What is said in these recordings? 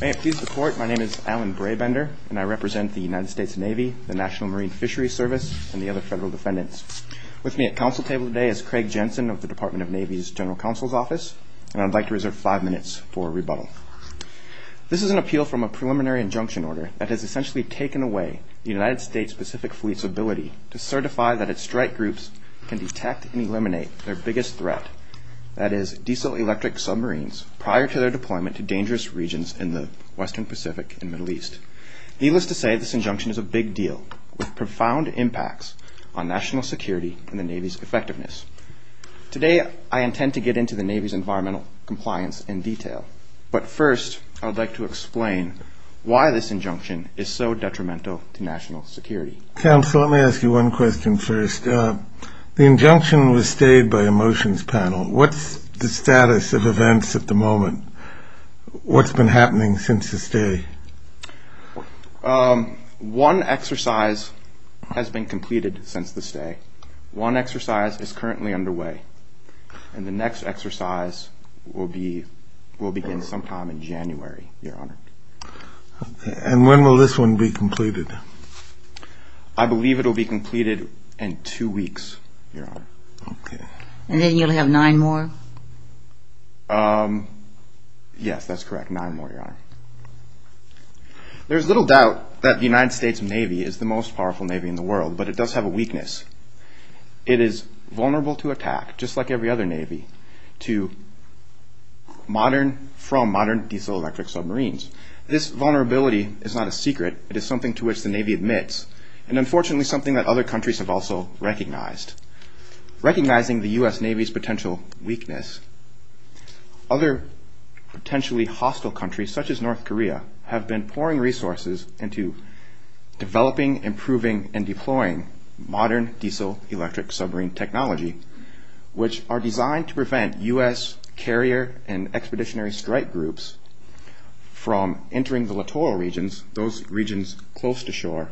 May it please the court, my name is Alan Braybender, and I represent the United States Navy, the National Marine Fisheries Service, and the other federal defendants. With me at council table today is Craig Jensen of the Department of Navy's General Counsel's Office, and I'd like to reserve five minutes for a rebuttal. This is an appeal from a preliminary injunction order that has essentially taken away the United States Pacific Fleet's ability to certify that its strike groups can detect and eliminate their biggest threat, that is, diesel-electric submarines, prior to their deployment to dangerous regions in the western Pacific and Middle East. Needless to say, this injunction is a big deal, with profound impacts on national security and the Navy's effectiveness. Today I intend to get into the Navy's environmental compliance in detail, but first I would like to explain why this injunction is so detrimental to national security. Counsel, let me ask you one question first. The injunction was stayed by a motions panel. What's the status of events at the moment? What's been happening since the stay? One exercise has been completed since the stay. One exercise is currently underway, and the next exercise will begin sometime in January, Your Honor. And when will this one be completed? I believe it will be completed in two weeks, Your Honor. And then you'll have nine more? Yes, that's correct, nine more, Your Honor. There's little doubt that the United States Navy is the most powerful Navy in the world, but it does have a weakness. It is vulnerable to attack, just like every other Navy, from modern diesel-electric submarines. This vulnerability is not a secret. It is something to which the Navy admits, and unfortunately something that other countries have also recognized. Recognizing the U.S. Navy's potential weakness, other potentially hostile countries, such as North Korea, have been pouring resources into developing, improving, and deploying modern diesel-electric submarine technology, which are designed to prevent U.S. carrier and expeditionary strike groups from entering the littoral regions, those regions close to shore,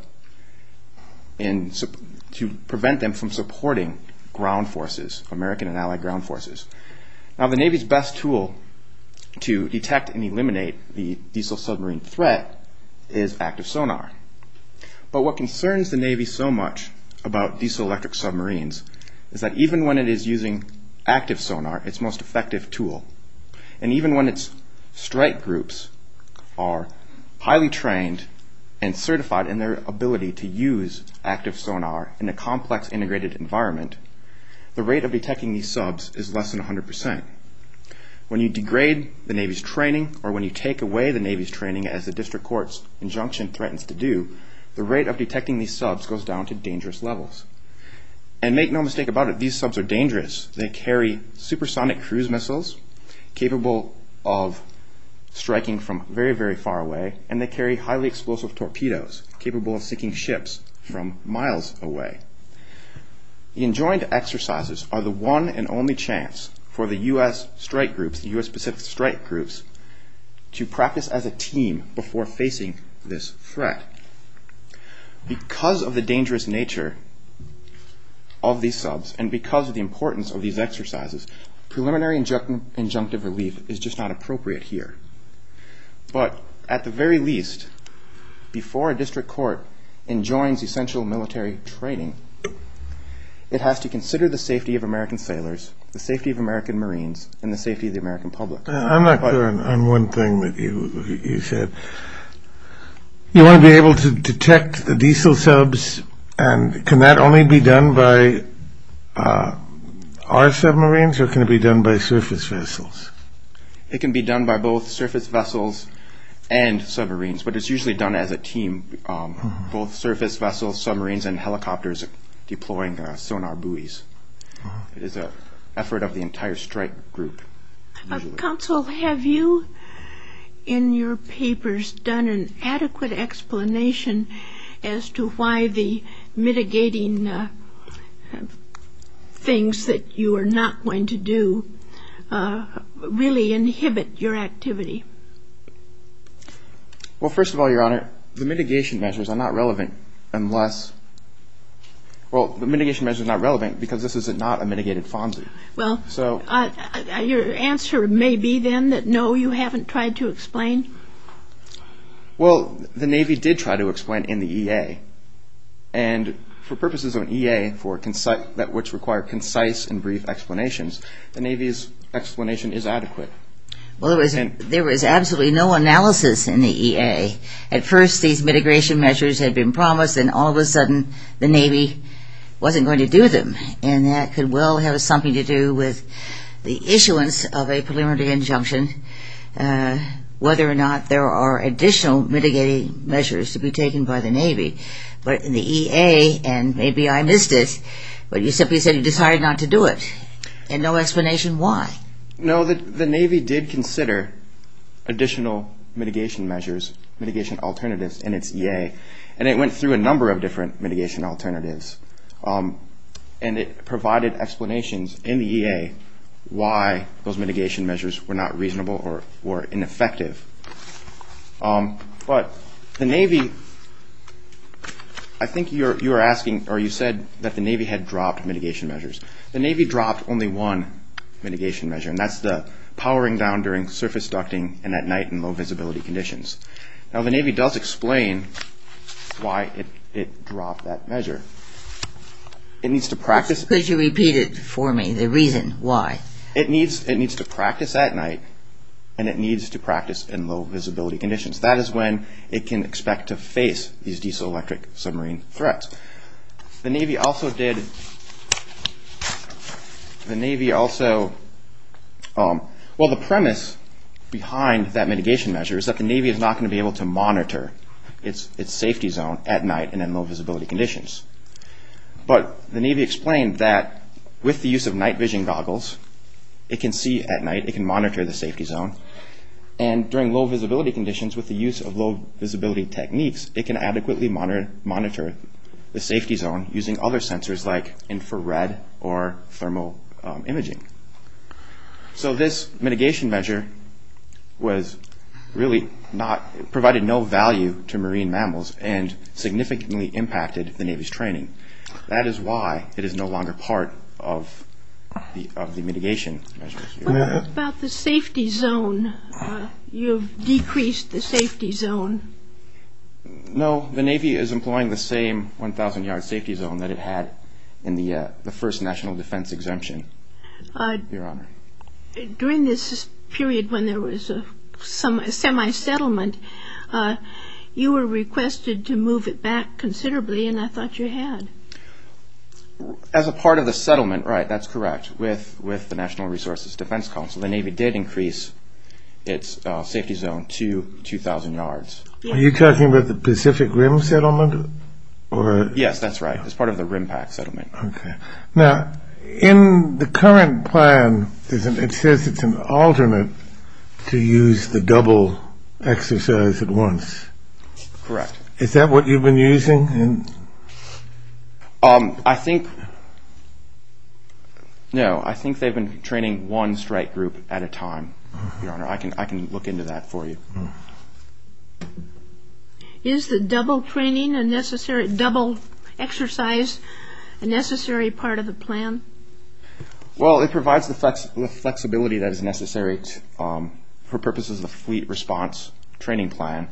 to prevent them from supporting ground forces, American and allied ground forces. Now, the Navy's best tool to detect and eliminate the diesel submarine threat is active sonar. But what concerns the Navy so much about diesel-electric submarines is that even when it is using active sonar, its most effective tool, and even when its strike groups are highly trained and certified in their ability to use active sonar in a complex integrated environment, the rate of detecting these subs is less than 100%. When you degrade the Navy's training or when you take away the Navy's training, as the district court's injunction threatens to do, the rate of detecting these subs goes down to dangerous levels. And make no mistake about it, these subs are dangerous. They carry supersonic cruise missiles capable of striking from very, very far away, and they carry highly explosive torpedoes capable of sinking ships from miles away. The enjoined exercises are the one and only chance for the U.S. strike groups, the U.S. Pacific strike groups, to practice as a team before facing this threat. Because of the dangerous nature of these subs and because of the importance of these exercises, preliminary injunctive relief is just not appropriate here. But at the very least, before a district court enjoins essential military training, it has to consider the safety of American sailors, the safety of American Marines, and the safety of the American public. I'm not clear on one thing that you said. You want to be able to detect the diesel subs, and can that only be done by our submarines or can it be done by surface vessels? It can be done by both surface vessels and submarines, but it's usually done as a team, both surface vessels, submarines, and helicopters deploying sonar buoys. It is an effort of the entire strike group. Counsel, have you in your papers done an adequate explanation as to why the mitigating things that you are not going to do really inhibit your activity? Well, first of all, Your Honor, the mitigation measures are not relevant unless – well, the mitigation measures are not relevant because this is not a mitigated FONSI. Well, your answer may be then that no, you haven't tried to explain? Well, the Navy did try to explain in the EA, and for purposes of an EA that which require concise and brief explanations, the Navy's explanation is adequate. Well, there was absolutely no analysis in the EA. At first, these mitigation measures had been promised, and all of a sudden the Navy wasn't going to do them, and that could well have something to do with the issuance of a preliminary injunction, whether or not there are additional mitigating measures to be taken by the Navy. But in the EA, and maybe I missed this, but you simply said you decided not to do it, and no explanation why. No, the Navy did consider additional mitigation measures, mitigation alternatives in its EA, and it went through a number of different mitigation alternatives, and it provided explanations in the EA why those mitigation measures were not reasonable or ineffective. But the Navy, I think you're asking, or you said that the Navy had dropped mitigation measures. The Navy dropped only one mitigation measure, and that's the powering down during surface ducting and at night in low visibility conditions. Now, the Navy does explain why it dropped that measure. It needs to practice. Could you repeat it for me, the reason why? It needs to practice at night, and it needs to practice in low visibility conditions. That is when it can expect to face these diesel-electric submarine threats. The Navy also did, the Navy also, well, the premise behind that mitigation measure is that the Navy is not going to be able to monitor its safety zone at night and in low visibility conditions. But the Navy explained that with the use of night vision goggles, it can see at night, it can monitor the safety zone, and during low visibility conditions, with the use of low visibility techniques, it can adequately monitor the safety zone using other sensors like infrared or thermal imaging. So this mitigation measure was really not, provided no value to marine mammals and significantly impacted the Navy's training. That is why it is no longer part of the mitigation measures. What about the safety zone? You've decreased the safety zone. No. The Navy is employing the same 1,000-yard safety zone that it had in the first national defense exemption, Your Honor. During this period when there was a semi-settlement, you were requested to move it back considerably, and I thought you had. As a part of the settlement, right, that's correct, with the National Resources Defense Council, the Navy did increase its safety zone to 2,000 yards. Are you talking about the Pacific Rim settlement? Yes, that's right. It's part of the Rim Pack settlement. Okay. Now, in the current plan, it says it's an alternate to use the double exercise at once. Correct. Is that what you've been using? I think, no, I think they've been training one strike group at a time, Your Honor. I can look into that for you. Is the double exercise a necessary part of the plan? Well, it provides the flexibility that is necessary for purposes of the fleet response training plan.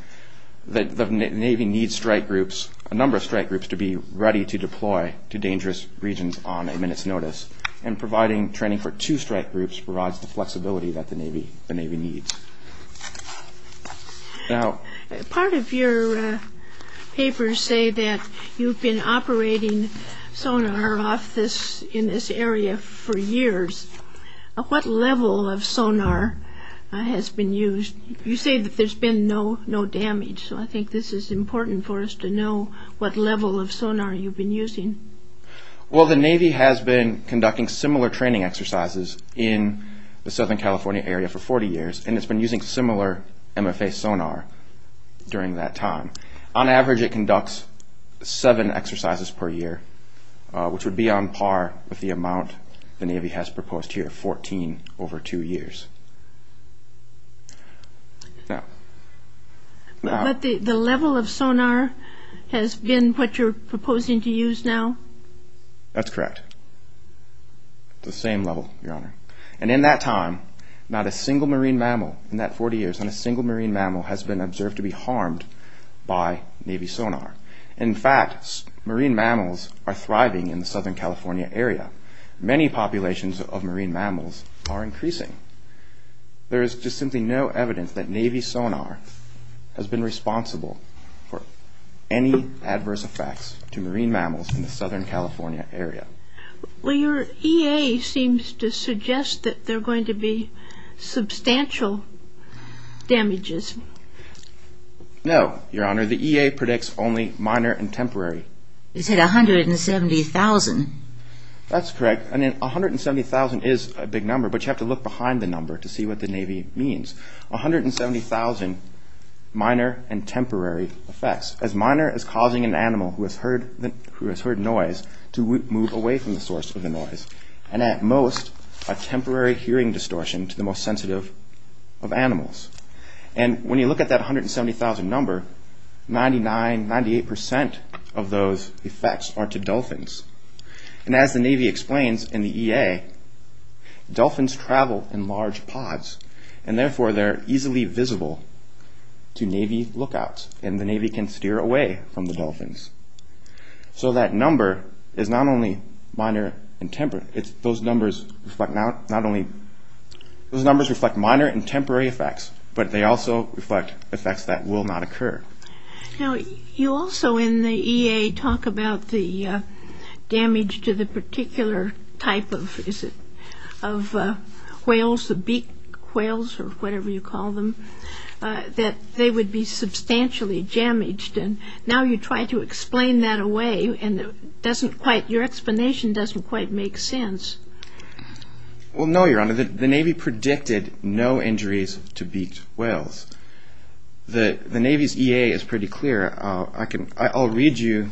The Navy needs strike groups, a number of strike groups, to be ready to deploy to dangerous regions on a minute's notice, and providing training for two strike groups provides the flexibility that the Navy needs. Now, part of your papers say that you've been operating sonar in this area for years. What level of sonar has been used? You say that there's been no damage, so I think this is important for us to know what level of sonar you've been using. Well, the Navy has been conducting similar training exercises in the Southern California area for 40 years, and it's been using similar MFA sonar during that time. On average, it conducts seven exercises per year, which would be on par with the amount the Navy has proposed here, 14 over two years. But the level of sonar has been what you're proposing to use now? That's correct. It's the same level, Your Honor. And in that time, not a single marine mammal in that 40 years, not a single marine mammal has been observed to be harmed by Navy sonar. In fact, marine mammals are thriving in the Southern California area. Many populations of marine mammals are increasing. There is just simply no evidence that Navy sonar has been responsible for any adverse effects to marine mammals in the Southern California area. Well, your EA seems to suggest that there are going to be substantial damages. No, Your Honor. The EA predicts only minor and temporary. It said 170,000. That's correct. I mean, 170,000 is a big number, but you have to look behind the number to see what the Navy means. 170,000 minor and temporary effects. As minor as causing an animal who has heard noise to move away from the source of the noise, And when you look at that 170,000 number, 99, 98% of those effects are to dolphins. And as the Navy explains in the EA, dolphins travel in large pods, and therefore they're easily visible to Navy lookouts, and the Navy can steer away from the dolphins. So that number is not only minor and temporary. But they also reflect effects that will not occur. Now, you also in the EA talk about the damage to the particular type of, is it, of whales, the beak whales or whatever you call them, that they would be substantially damaged. And now you try to explain that away, and it doesn't quite, your explanation doesn't quite make sense. Well, no, Your Honor, the Navy predicted no injuries to beak whales. The Navy's EA is pretty clear. I'll read you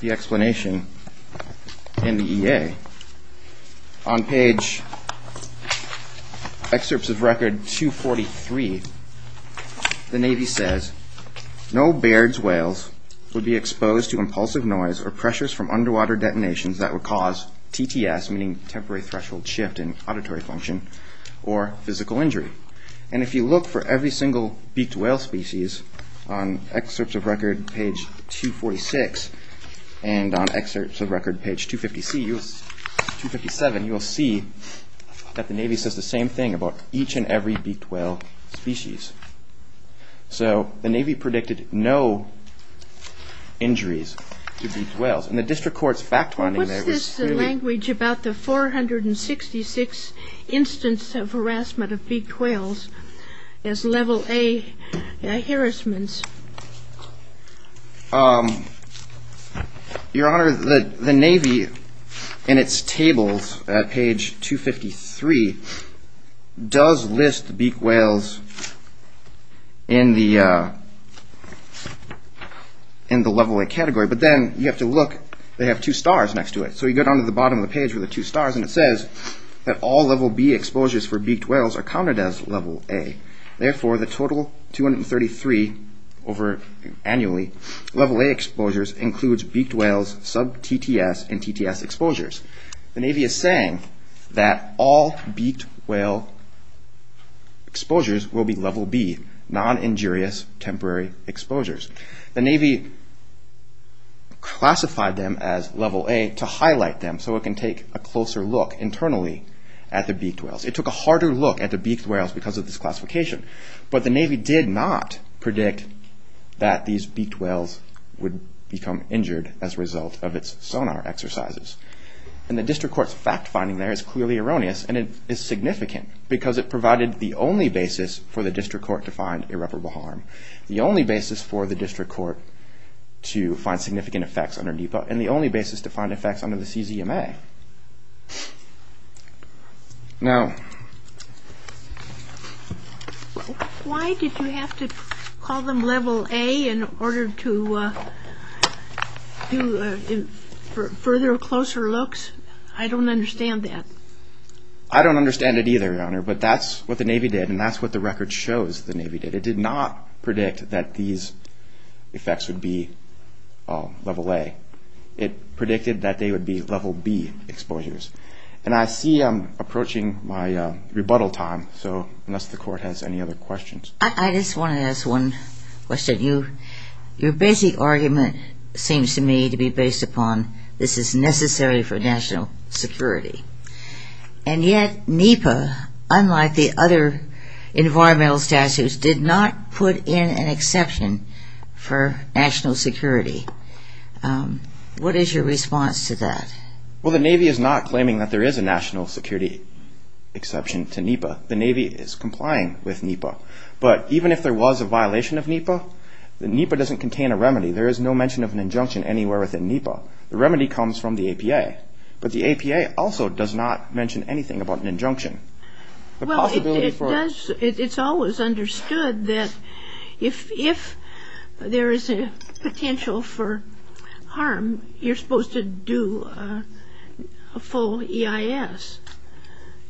the explanation in the EA. On page excerpts of record 243, the Navy says, No Baird's whales would be exposed to impulsive noise or pressures from underwater detonations that would cause TTS, meaning temporary threshold shift in auditory function, or physical injury. And if you look for every single beaked whale species on excerpts of record page 246, and on excerpts of record page 257, you'll see that the Navy says the same thing about each and every beaked whale species. So the Navy predicted no injuries to beaked whales. And the district court's fact-finding there was fairly... What's this language about the 466 instance of harassment of beaked whales as level A harassment? Your Honor, the Navy, in its tables at page 253, does list beaked whales in the level A category, but then you have to look, they have two stars next to it. So you go down to the bottom of the page where the two stars, and it says that all level B exposures for beaked whales are counted as level A. Therefore, the total 233, over annually, level A exposures includes beaked whales, sub-TTS, and TTS exposures. The Navy is saying that all beaked whale exposures will be level B, non-injurious temporary exposures. The Navy classified them as level A to highlight them so it can take a closer look internally at the beaked whales. It took a harder look at the beaked whales because of this classification. But the Navy did not predict that these beaked whales would become injured as a result of its sonar exercises. And the district court's fact-finding there is clearly erroneous, and it is significant, because it provided the only basis for the district court to find irreparable harm, the only basis for the district court to find significant effects under NEPA, and the only basis to find effects under the CZMA. Now... Why did you have to call them level A in order to do further, closer looks? I don't understand that. I don't understand it either, Your Honor, but that's what the Navy did, and that's what the record shows the Navy did. It did not predict that these effects would be level A. It predicted that they would be level B exposures. And I see I'm approaching my rebuttal time, so unless the court has any other questions... I just want to ask one question. Your basic argument seems to me to be based upon this is necessary for national security. And yet NEPA, unlike the other environmental statutes, did not put in an exception for national security. What is your response to that? Well, the Navy is not claiming that there is a national security exception to NEPA. The Navy is complying with NEPA. But even if there was a violation of NEPA, NEPA doesn't contain a remedy. There is no mention of an injunction anywhere within NEPA. So the remedy comes from the APA. But the APA also does not mention anything about an injunction. The possibility for... Well, it does. It's always understood that if there is a potential for harm, you're supposed to do a full EIS.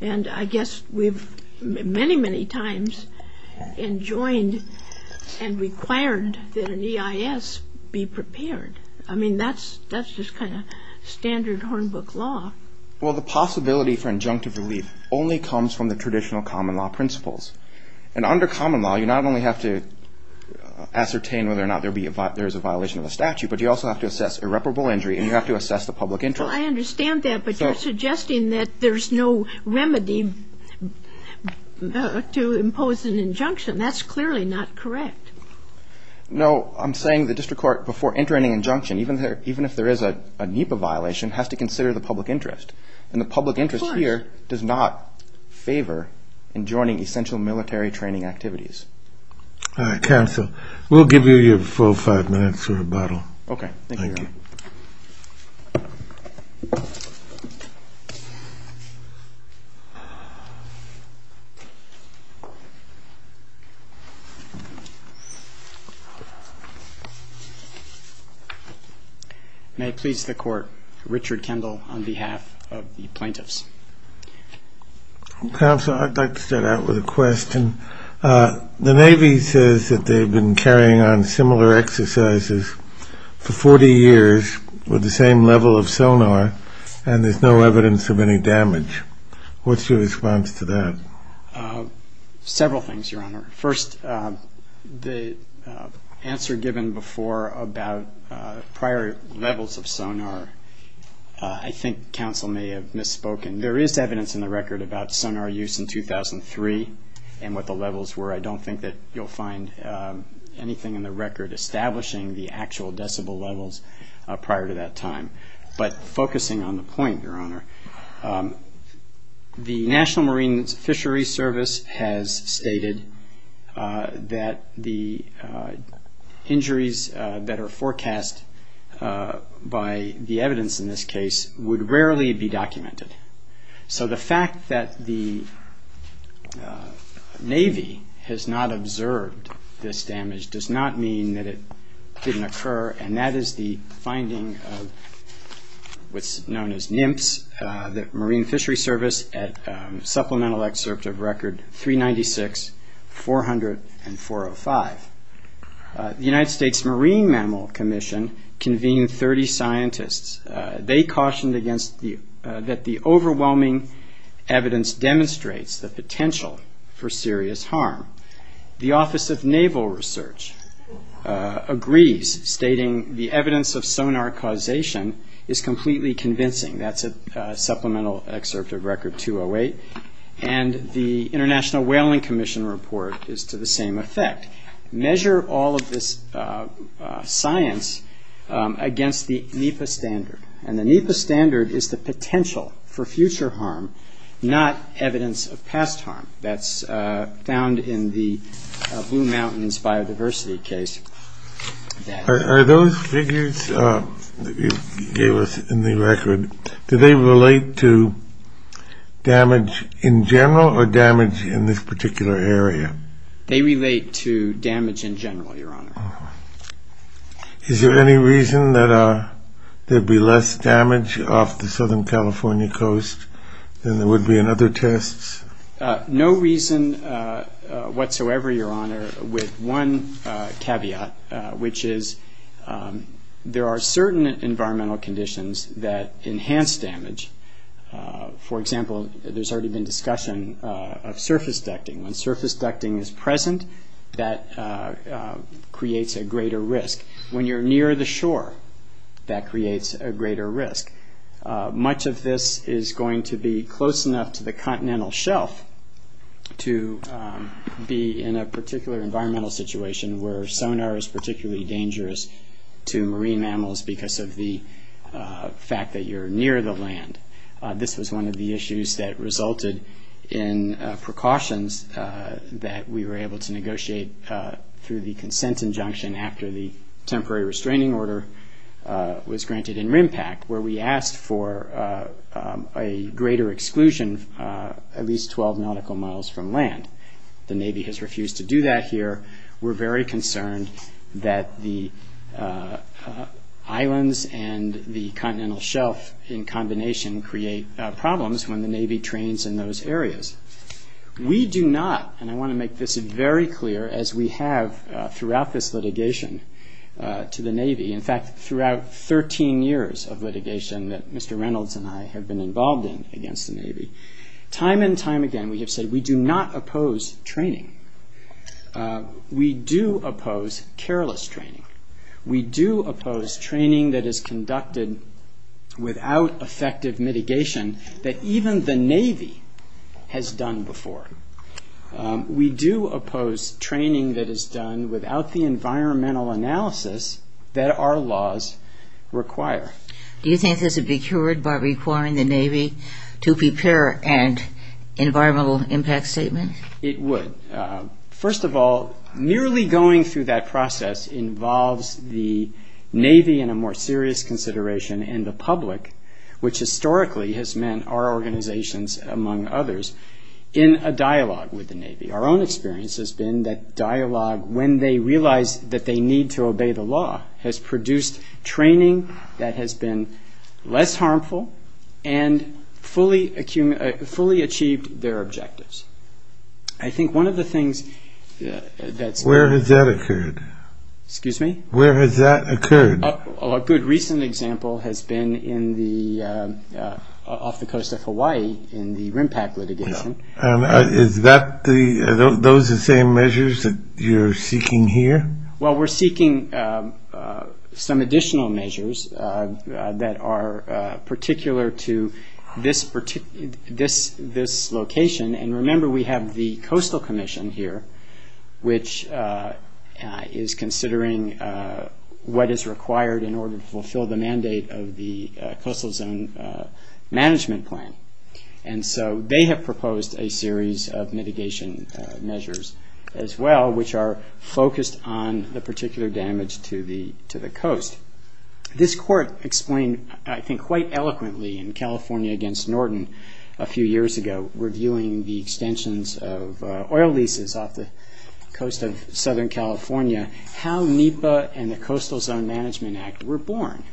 And I guess we've many, many times enjoined and required that an EIS be prepared. I mean, that's just kind of standard Hornbook law. Well, the possibility for injunctive relief only comes from the traditional common law principles. And under common law, you not only have to ascertain whether or not there is a violation of the statute, but you also have to assess irreparable injury and you have to assess the public interest. Well, I understand that, but you're suggesting that there's no remedy to impose an injunction. That's clearly not correct. No, I'm saying the district court, before entering an injunction, even if there is a NEPA violation, has to consider the public interest. And the public interest here does not favor enjoining essential military training activities. All right, counsel. We'll give you your full five minutes for rebuttal. Okay. Thank you. May it please the court, Richard Kendall on behalf of the plaintiffs. Counsel, I'd like to start out with a question. The Navy says that they've been carrying on similar exercises for 40 years with the same level of sonar and there's no evidence of any damage. What's your response to that? Several things, Your Honor. First, the answer given before about prior levels of sonar, I think counsel may have misspoken. There is evidence in the record about sonar use in 2003 and what the levels were. I don't think that you'll find anything in the record establishing the actual decibel levels prior to that time. But focusing on the point, Your Honor, the National Marine Fisheries Service has stated that the injuries that are forecast by the evidence in this case would rarely be documented. So the fact that the Navy has not observed this damage does not mean that it didn't occur and that is the finding of what's known as NIMPS, the Marine Fisheries Service at supplemental excerpt of Record 396-404-405. The United States Marine Mammal Commission convened 30 scientists. They cautioned that the overwhelming evidence demonstrates the potential for serious harm. The Office of Naval Research agrees, stating the evidence of sonar causation is completely convincing. That's a supplemental excerpt of Record 208 and the International Whaling Commission report is to the same effect. Measure all of this science against the NEPA standard. And the NEPA standard is the potential for future harm, not evidence of past harm. That's found in the Blue Mountains biodiversity case. Are those figures that you gave us in the record, do they relate to damage in general or damage in this particular area? They relate to damage in general, Your Honor. Is there any reason that there'd be less damage off the Southern California coast than there would be in other tests? No reason whatsoever, Your Honor, with one caveat, which is there are certain environmental conditions that enhance damage. For example, there's already been discussion of surface ducting. When surface ducting is present, that creates a greater risk. When you're near the shore, that creates a greater risk. Much of this is going to be close enough to the continental shelf to be in a particular environmental situation where sonar is particularly dangerous to marine animals because of the fact that you're near the land. This was one of the issues that resulted in precautions that we were able to negotiate through the consent injunction after the temporary restraining order was granted in RIMPAC and asked for a greater exclusion at least 12 nautical miles from land. The Navy has refused to do that here. We're very concerned that the islands and the continental shelf in combination create problems when the Navy trains in those areas. We do not, and I want to make this very clear, as we have throughout this litigation to the Navy, in fact throughout 13 years of litigation that Mr. Reynolds and I have been involved in against the Navy, time and time again we have said we do not oppose training. We do oppose careless training. We do oppose training that is conducted without effective mitigation that even the Navy has done before. We do oppose training that is done without the environmental analysis that our laws require. Do you think this would be cured by requiring the Navy to prepare an environmental impact statement? It would. First of all, merely going through that process involves the Navy in a more serious consideration and the public, which historically has meant our organizations among others, in a dialogue with the Navy. Our own experience has been that dialogue, when they realize that they need to obey the law, has produced training that has been less harmful and fully achieved their objectives. Where has that occurred? A good recent example has been off the coast of Hawaii in the RIMPAC litigation. Are those the same measures that you're seeking here? Well, we're seeking some additional measures that are particular to this location. And remember, we have the Coastal Commission here, which is considering what is required in order to fulfill the mandate of the Coastal Zone Management Plan. And so they have proposed a series of mitigation measures as well, which are focused on the particular damage to the coast. This court explained, I think quite eloquently, in California against Norton a few years ago, reviewing the extensions of oil leases off the coast of Southern California, how NEPA and the Coastal Zone Management Act were born.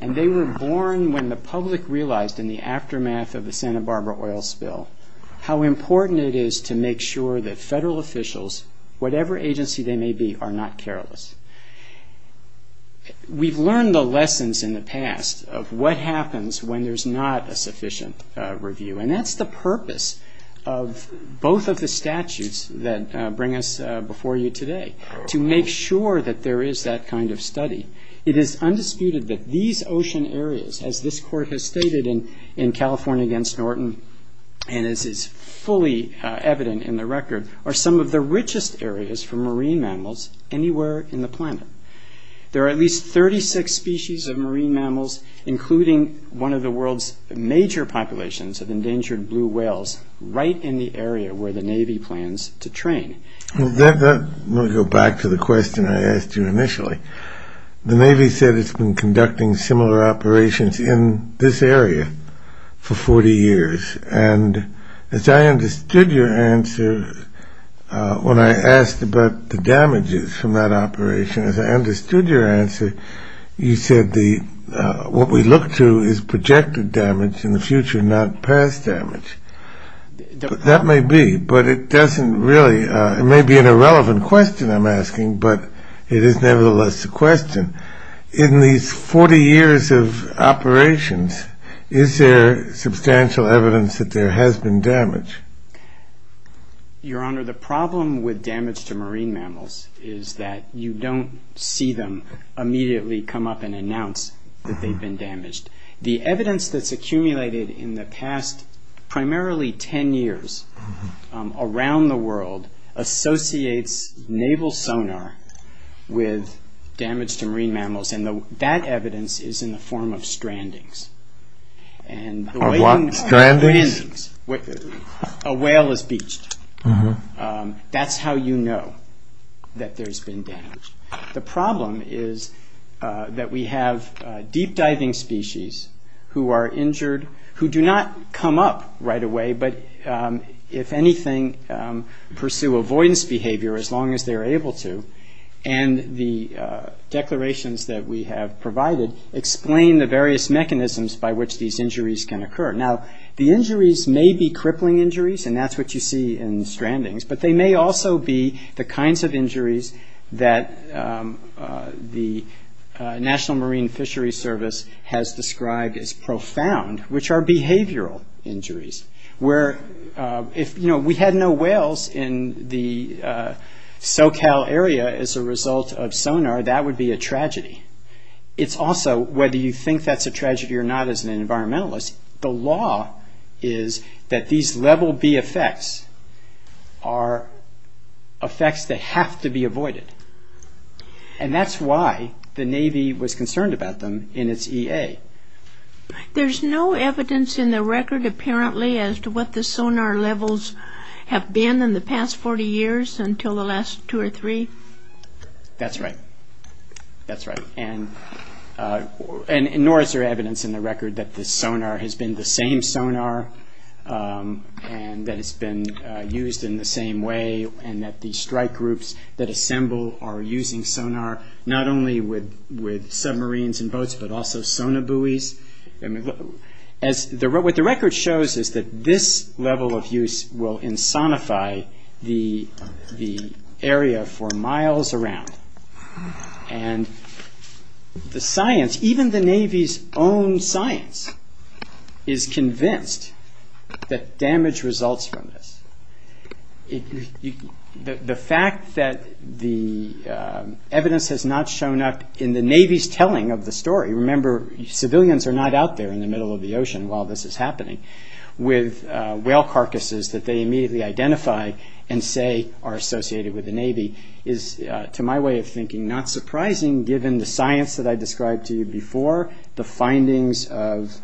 And they were born when the public realized in the aftermath of the Santa Barbara oil spill how important it is to make sure that federal officials, whatever agency they may be, are not careless. We've learned the lessons in the past of what happens when there's not a sufficient review. And that's the purpose of both of the statutes that bring us before you today, to make sure that there is that kind of study. It is undisputed that these ocean areas, as this court has stated in California against Norton, and as is fully evident in the record, are some of the richest areas for marine mammals anywhere in the planet. There are at least 36 species of marine mammals, including one of the world's major populations of endangered blue whales, right in the area where the Navy plans to train. Let me go back to the question I asked you initially. The Navy said it's been conducting similar operations in this area for 40 years. And as I understood your answer when I asked about the damages from that operation, you said what we look to is projected damage in the future, not past damage. That may be, but it doesn't really, it may be an irrelevant question I'm asking, but it is nevertheless a question. In these 40 years of operations, is there substantial evidence that there has been damage? Your Honor, the problem with damage to marine mammals is that you don't see them immediately come up and announce that they've been damaged. The evidence that's accumulated in the past primarily 10 years around the world associates naval sonar with damage to marine mammals, and that evidence is in the form of strandings. Strandings? A whale is beached. That's how you know that there's been damage. The problem is that we have deep diving species who are injured, who do not come up right away, but if anything, pursue avoidance behavior as long as they're able to. And the declarations that we have provided explain the various mechanisms by which these injuries can occur. Now, the injuries may be crippling injuries, and that's what you see in strandings, but they may also be the kinds of injuries that the National Marine Fishery Service has described as profound, which are behavioral injuries. If we had no whales in the SoCal area as a result of sonar, that would be a tragedy. It's also, whether you think that's a tragedy or not as an environmentalist, the law is that these level B effects are effects that have to be avoided, and that's why the Navy was concerned about them in its EA. There's no evidence in the record apparently as to what the sonar levels have been in the past 40 years until the last two or three? That's right. That's right. And nor is there evidence in the record that the sonar has been the same sonar and that it's been used in the same way and that the strike groups that assemble are using sonar not only with submarines and boats, but also sonar buoys. What the record shows is that this level of use will insonify the area for miles around, and the science, even the Navy's own science is convinced that damage results from this. The fact that the evidence has not shown up in the Navy's telling of the story, remember civilians are not out there in the middle of the ocean while this is happening, with whale carcasses that they immediately identify and say are associated with the Navy, is to my way of thinking not surprising given the science that I described to you before, the findings of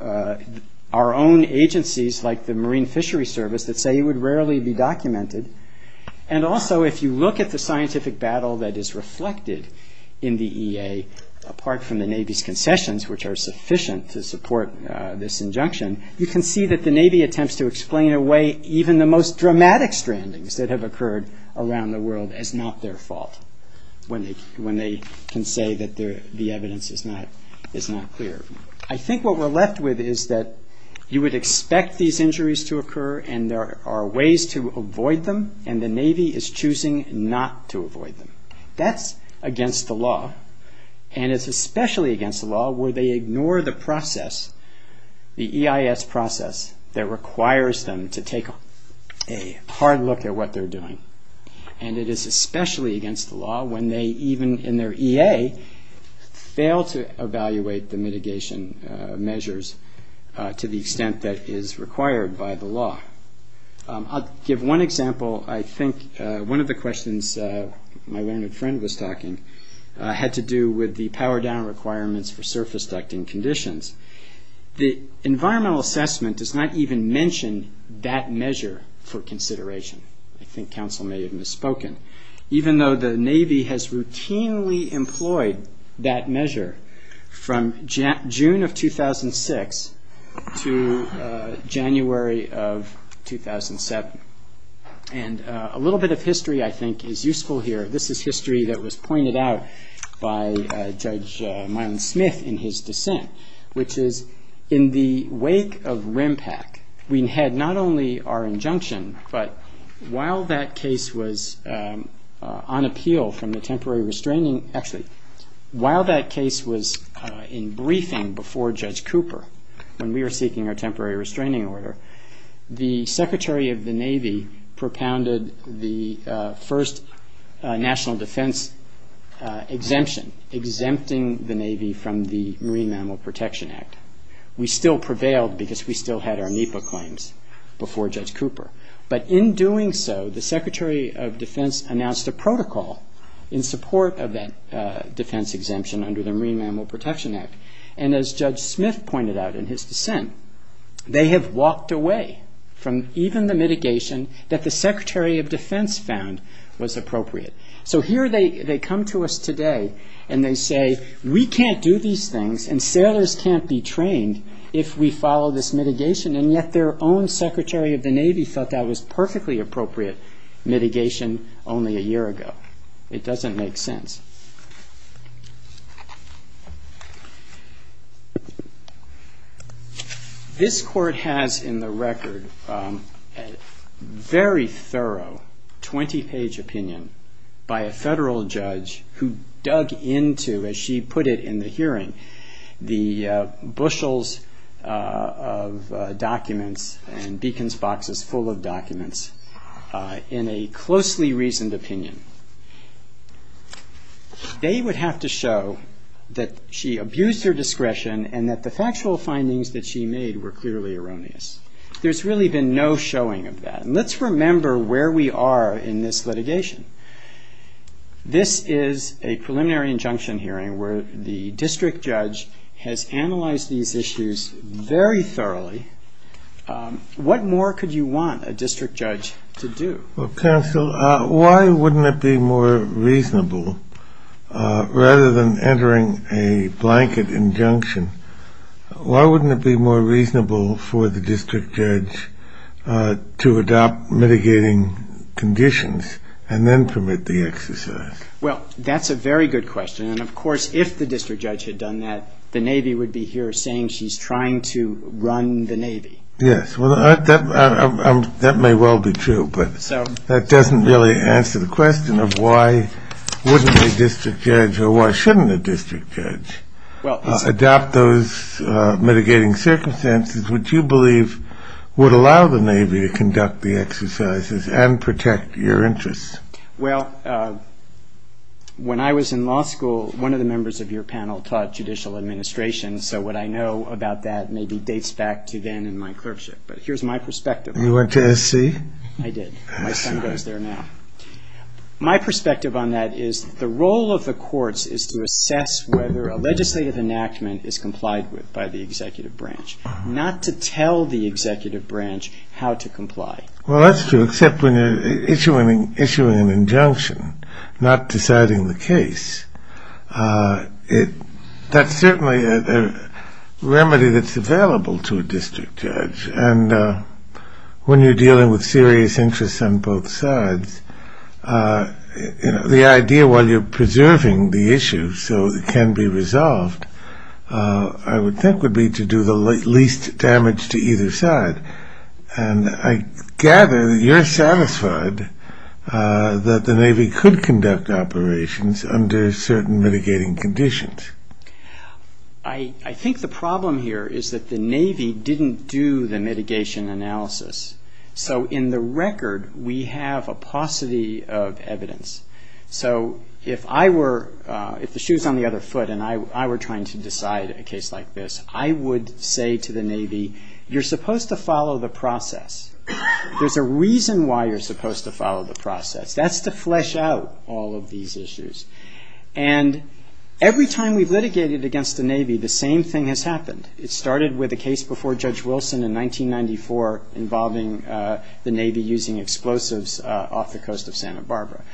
our own agencies like the Marine Fishery Service that say it would rarely be documented, and also if you look at the scientific battle that is reflected in the EA, apart from the Navy's concessions which are sufficient to support this injunction, you can see that the Navy attempts to explain away even the most dramatic strandings that have occurred around the world as not their fault when they can say that the evidence is not clear. I think what we're left with is that you would expect these injuries to occur, and there are ways to avoid them, and the Navy is choosing not to avoid them. That's against the law, and it's especially against the law where they ignore the process, the EIS process that requires them to take a hard look at what they're doing, and it is especially against the law when they, even in their EA, fail to evaluate the mitigation measures to the extent that is required by the law. I'll give one example. I think one of the questions my learned friend was talking had to do with the power down requirements for surface ducting conditions. The environmental assessment does not even mention that measure for consideration. I think counsel may have misspoken. Even though the Navy has routinely employed that measure from June of 2006 to January of 2007, and a little bit of history I think is useful here. This is history that was pointed out by Judge Mylon Smith in his dissent, which is in the wake of RIMPAC we had not only our injunction, but while that case was on appeal from the temporary restraining, actually while that case was in briefing before Judge Cooper when we were seeking our temporary restraining order, the Secretary of the Navy propounded the first national defense exemption, exempting the Navy from the Marine Mammal Protection Act. We still prevailed because we still had our NEPA claims before Judge Cooper, but in doing so the Secretary of Defense announced a protocol in support of that defense exemption under the Marine Mammal Protection Act, and as Judge Smith pointed out in his dissent, they have walked away from even the mitigation that the Secretary of Defense found was appropriate. So here they come to us today and they say, we can't do these things and sailors can't be trained if we follow this mitigation, and yet their own Secretary of the Navy felt that was perfectly appropriate mitigation only a year ago. It doesn't make sense. This Court has in the record a very thorough 20-page opinion, by a federal judge who dug into, as she put it in the hearing, the bushels of documents and beacons boxes full of documents in a closely reasoned opinion. They would have to show that she abused her discretion and that the factual findings that she made were clearly erroneous. There's really been no showing of that, and let's remember where we are in this litigation. This is a preliminary injunction hearing where the district judge has analyzed these issues very thoroughly. What more could you want a district judge to do? Well, counsel, why wouldn't it be more reasonable, rather than entering a blanket injunction, why wouldn't it be more reasonable for the district judge to adopt mitigating conditions and then permit the exercise? Well, that's a very good question, and of course, if the district judge had done that, the Navy would be here saying she's trying to run the Navy. Yes, well, that may well be true, but that doesn't really answer the question of why wouldn't a district judge or why shouldn't a district judge adopt those mitigating circumstances which you believe would allow the Navy to conduct the exercises and protect your interests. Well, when I was in law school, one of the members of your panel taught judicial administration, so what I know about that maybe dates back to then in my clerkship, but here's my perspective. You went to SC? I did. My son goes there now. My perspective on that is the role of the courts is to assess whether a legislative enactment is complied with by the executive branch, not to tell the executive branch how to comply. Well, that's true, except when you're issuing an injunction, not deciding the case, that's certainly a remedy that's available to a district judge, and when you're dealing with serious interests on both sides, the idea while you're preserving the issue so it can be resolved, I would think would be to do the least damage to either side, and I gather that you're satisfied that the Navy could conduct operations under certain mitigating conditions. I think the problem here is that the Navy didn't do the mitigation analysis, so in the record we have a paucity of evidence, so if I were, if the shoe's on the other foot and I were trying to decide a case like this, I would say to the Navy, you're supposed to follow the process. There's a reason why you're supposed to follow the process. That's to flesh out all of these issues, and every time we've litigated against the Navy, the same thing has happened. It started with a case before Judge Wilson in 1994 involving the Navy using explosives off the coast of Santa Barbara.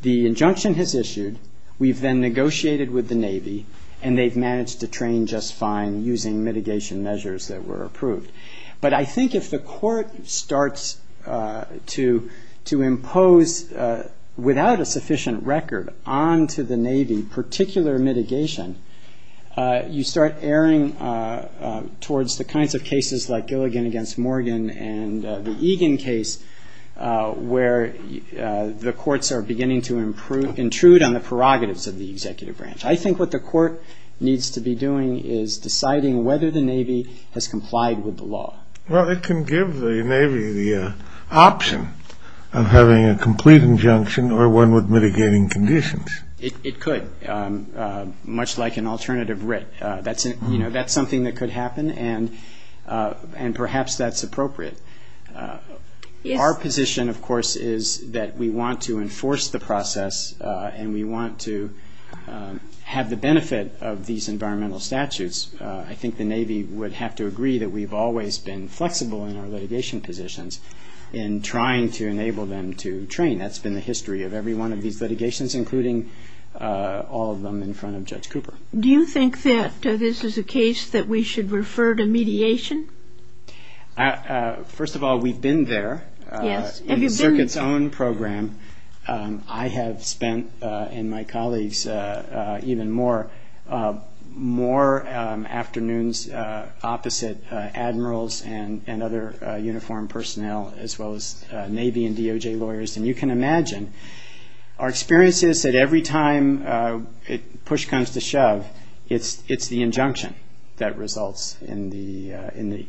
The injunction has issued, we've then negotiated with the Navy, and they've managed to train just fine using mitigation measures that were approved, but I think if the court starts to impose, without a sufficient record, onto the Navy particular mitigation, you start erring towards the kinds of cases like Gilligan against Morgan and the Egan case, where the courts are beginning to intrude on the prerogatives of the executive branch. I think what the court needs to be doing is deciding whether the Navy has complied with the law. Well, it can give the Navy the option of having a complete injunction or one with mitigating conditions. It could, much like an alternative writ. That's something that could happen, and perhaps that's appropriate. Our position, of course, is that we want to enforce the process, and we want to have the benefit of these environmental statutes. I think the Navy would have to agree that we've always been flexible in our litigation positions in trying to enable them to train. That's been the history of every one of these litigations, including all of them in front of Judge Cooper. Do you think that this is a case that we should refer to mediation? First of all, we've been there in the circuit's own program. I have spent, and my colleagues even more, more afternoons opposite admirals and other uniformed personnel, as well as Navy and DOJ lawyers. You can imagine our experience is that every time push comes to shove, it's the injunction that results in the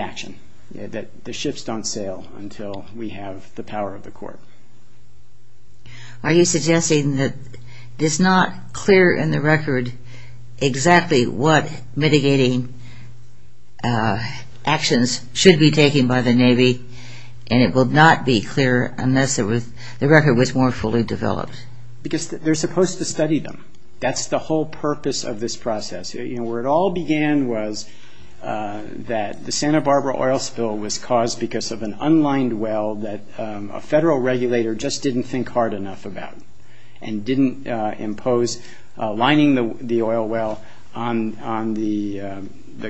action. The shifts don't sail until we have the power of the court. Are you suggesting that it's not clear in the record exactly what mitigating actions should be taken by the Navy, and it will not be clear unless the record was more fully developed? Because they're supposed to study them. That's the whole purpose of this process. Where it all began was that the Santa Barbara oil spill was caused because of an unlined well that a federal regulator just didn't think hard enough about, and didn't impose lining the oil well on the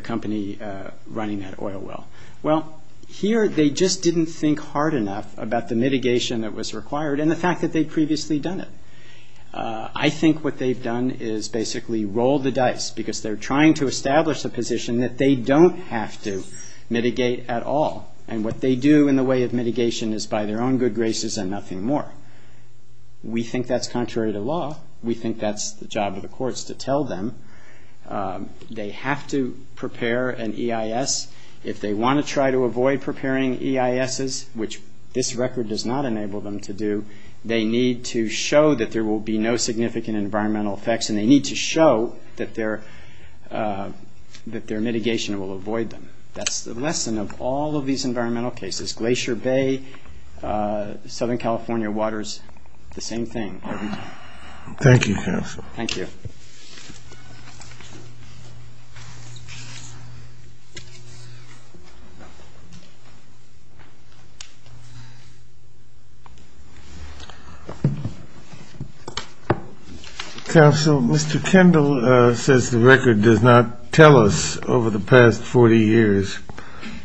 company running that oil well. Well, here they just didn't think hard enough about the mitigation that was required and the fact that they'd previously done it. I think what they've done is basically rolled the dice, because they're trying to establish a position that they don't have to mitigate at all, and what they do in the way of mitigation is by their own good graces and nothing more. We think that's contrary to law. We think that's the job of the courts to tell them they have to prepare an EIS. If they want to try to avoid preparing EISs, which this record does not enable them to do, they need to show that there will be no significant environmental effects, and they need to show that their mitigation will avoid them. That's the lesson of all of these environmental cases. Glacier Bay, Southern California waters, the same thing. Thank you, counsel. Thank you. Counsel, Mr. Kendall says the record does not tell us over the past 40 years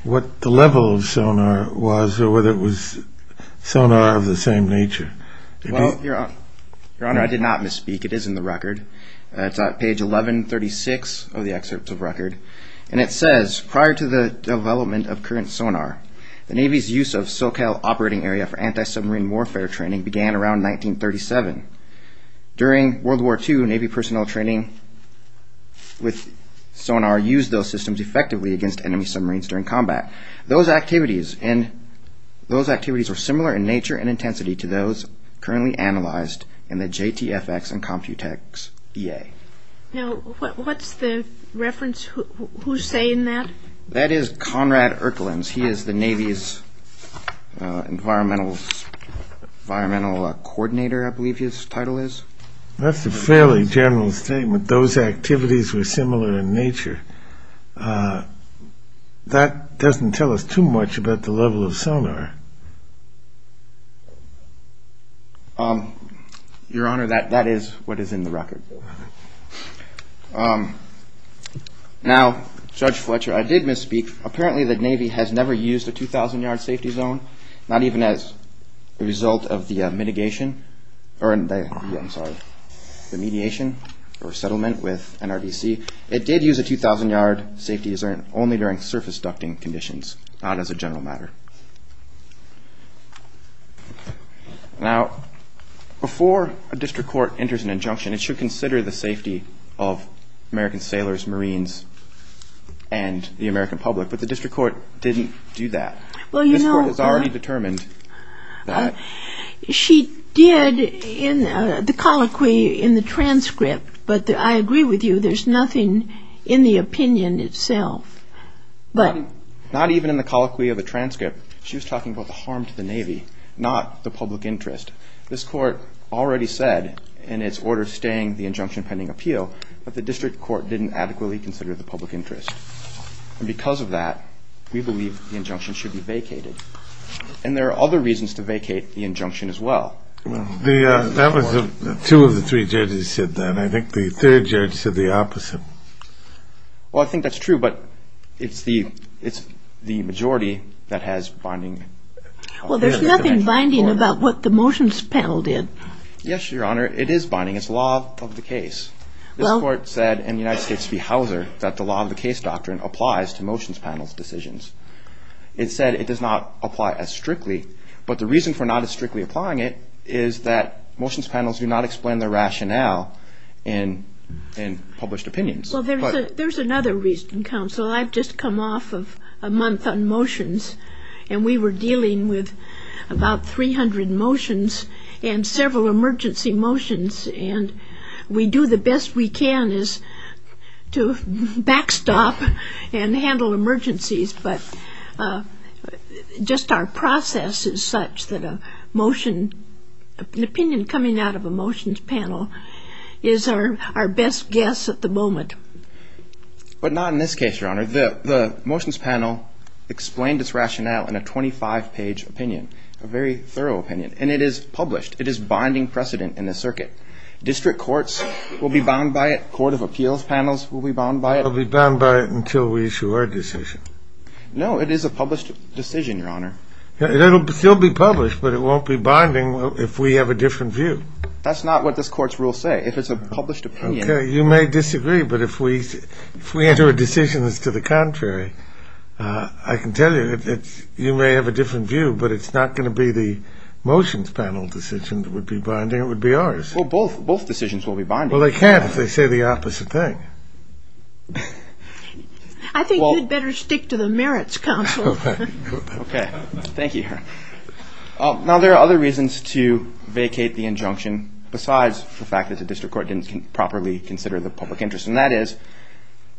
what the level of sonar was or whether it was sonar of the same nature. Well, Your Honor, I did not misspeak. It is in the record. It's on page 1136 of the excerpt of the record, and it says prior to the development of current sonar, the Navy's use of SoCal operating area for anti-submarine warfare training began around 1937. During World War II, Navy personnel training with sonar used those systems effectively against enemy submarines during combat. Those activities were similar in nature and intensity to those currently analyzed in the JTFX and Computex EA. Now, what's the reference? Who's saying that? That is Conrad Erkelins. He is the Navy's environmental coordinator, I believe his title is. That's a fairly general statement. Those activities were similar in nature. That doesn't tell us too much about the level of sonar. Your Honor, that is what is in the record. Now, Judge Fletcher, I did misspeak. Apparently the Navy has never used a 2,000-yard safety zone, not even as a result of the mediation or settlement with NRDC. It did use a 2,000-yard safety zone only during surface ducting conditions, not as a general matter. Now, before a district court enters an injunction, it should consider the safety of American sailors, Marines, and the American public. But the district court didn't do that. This Court has already determined that. She did the colloquy in the transcript, but I agree with you, there's nothing in the opinion itself. Not even in the colloquy of the transcript. She was talking about the harm to the Navy, not the public interest. This Court already said in its order staying the injunction pending appeal, but the district court didn't adequately consider the public interest. And because of that, we believe the injunction should be vacated. And there are other reasons to vacate the injunction as well. That was what two of the three judges said then. And I think the third judge said the opposite. Well, I think that's true, but it's the majority that has binding... Well, there's nothing binding about what the motions panel did. Yes, Your Honor, it is binding. It's law of the case. This Court said in the United States v. Hauser that the law of the case doctrine applies to motions panel's decisions. It said it does not apply as strictly, but the reason for not as strictly applying it is that motions panels do not explain their rationale in published opinions. Well, there's another reason, counsel. I've just come off of a month on motions, and we were dealing with about 300 motions and several emergency motions, and we do the best we can to backstop and handle emergencies. But just our process is such that an opinion coming out of a motions panel is our best guess at the moment. But not in this case, Your Honor. The motions panel explained its rationale in a 25-page opinion, a very thorough opinion. And it is published. It is binding precedent in this circuit. District courts will be bound by it. Court of appeals panels will be bound by it. They'll be bound by it until we issue our decision. No, it is a published decision, Your Honor. It'll still be published, but it won't be binding if we have a different view. That's not what this court's rules say. Okay. You may disagree, but if we enter a decision that's to the contrary, I can tell you that you may have a different view, but it's not going to be the motions panel decision that would be binding. It would be ours. Well, both decisions will be binding. Well, they can't if they say the opposite thing. I think you'd better stick to the merits counsel. Okay. Thank you, Your Honor. Now, there are other reasons to vacate the injunction besides the fact that the district court didn't properly consider the public interest, and that is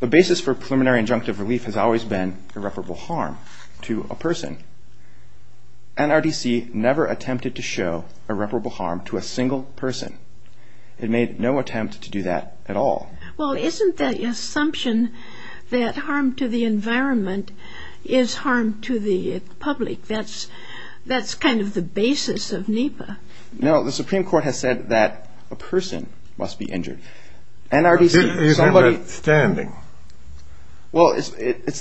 the basis for preliminary injunctive relief has always been irreparable harm to a person. NRDC never attempted to show irreparable harm to a single person. It made no attempt to do that at all. Well, isn't the assumption that harm to the environment is harm to the public? That's kind of the basis of NEPA. No, the Supreme Court has said that a person must be injured. Well, it's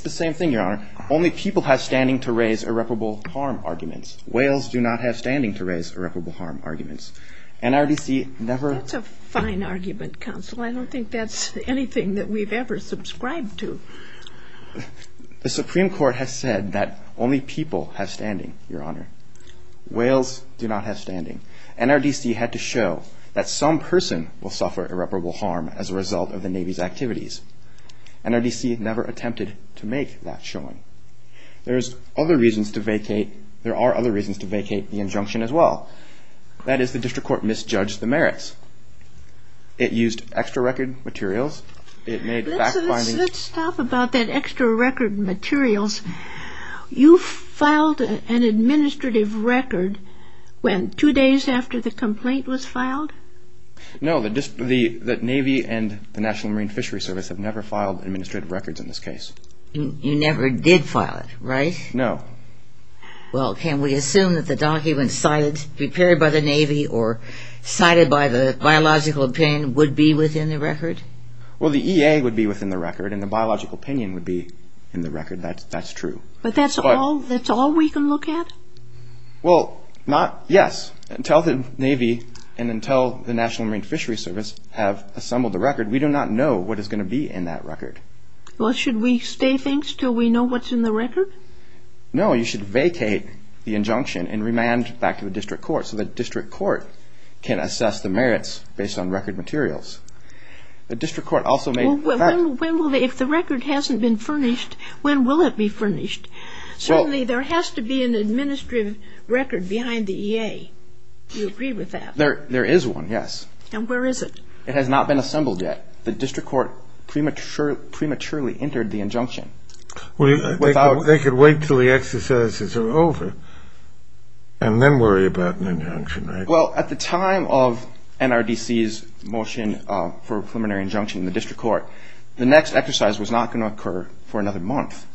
the same thing, Your Honor. Only people have standing to raise irreparable harm arguments. Whales do not have standing to raise irreparable harm arguments. That's a fine argument, counsel. I don't think that's anything that we've ever subscribed to. The Supreme Court has said that only people have standing, Your Honor. Whales do not have standing. NRDC had to show that some person will suffer irreparable harm as a result of the Navy's activities. NRDC never attempted to make that showing. There are other reasons to vacate the injunction as well. That is the district court misjudged the merits. It used extra record materials. Let's stop about that extra record materials. You filed an administrative record two days after the complaint was filed? No, the Navy and the National Marine Fishery Service have never filed administrative records in this case. You never did file it, right? No. Well, can we assume that the documents cited, prepared by the Navy or cited by the biological opinion, would be within the record? Well, the EA would be within the record and the biological opinion would be in the record. That's true. But that's all we can look at? Well, yes. Until the Navy and until the National Marine Fishery Service have assembled the record, we do not know what is going to be in that record. Well, should we stay things until we know what's in the record? No, you should vacate the injunction and remand back to the district court so the district court can assess the merits based on record materials. Well, if the record hasn't been furnished, when will it be furnished? Certainly there has to be an administrative record behind the EA. Do you agree with that? There is one, yes. And where is it? It has not been assembled yet. The district court prematurely entered the injunction. They could wait until the exercises are over and then worry about an injunction, right? Well, at the time of NRDC's motion for a preliminary injunction in the district court, the next exercise was not going to occur for another month.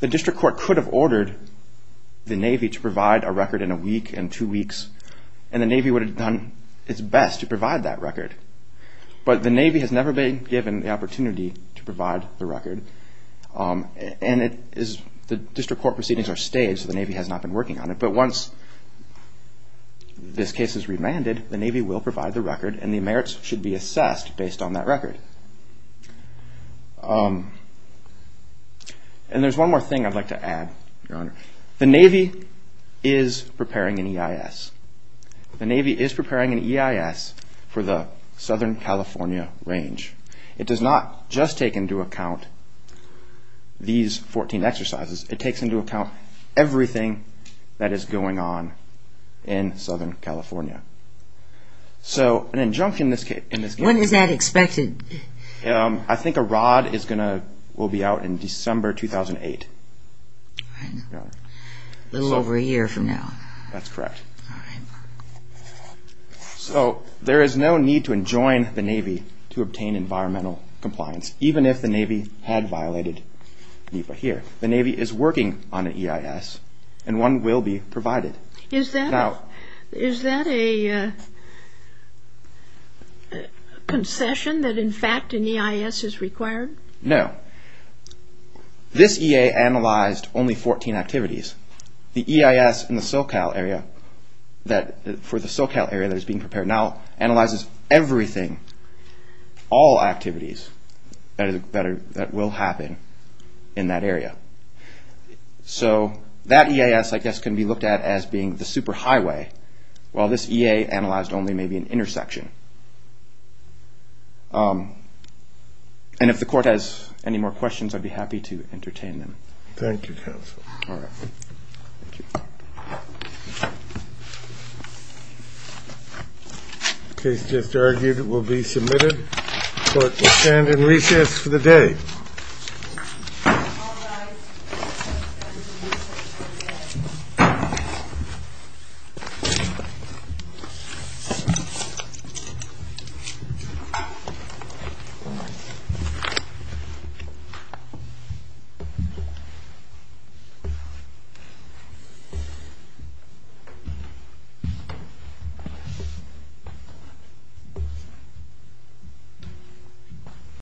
The district court could have ordered the Navy to provide a record in a week, in two weeks, and the Navy would have done its best to provide that record. But the Navy has never been given the opportunity to provide the record, and the district court proceedings are staged, so the Navy has not been working on it. But once this case is remanded, the Navy will provide the record, and the merits should be assessed based on that record. And there's one more thing I'd like to add, Your Honor. The Navy is preparing an EIS. The Navy is preparing an EIS for the Southern California range. It does not just take into account these 14 exercises. It takes into account everything that is going on in Southern California. So an injunction in this case... When is that expected? I think a rod will be out in December 2008. A little over a year from now. That's correct. So there is no need to enjoin the Navy to obtain environmental compliance, even if the Navy had violated NEPA here. The Navy is working on an EIS, and one will be provided. Is that a concession that in fact an EIS is required? No. Okay. This EA analyzed only 14 activities. The EIS in the SoCal area, for the SoCal area that is being prepared now, analyzes everything, all activities that will happen in that area. So that EIS, I guess, can be looked at as being the superhighway, while this EA analyzed only maybe an intersection. And if the Court has any more questions, I'd be happy to entertain them. Thank you, counsel. The case just argued will be submitted. Court will stand in recess for the day. Thank you.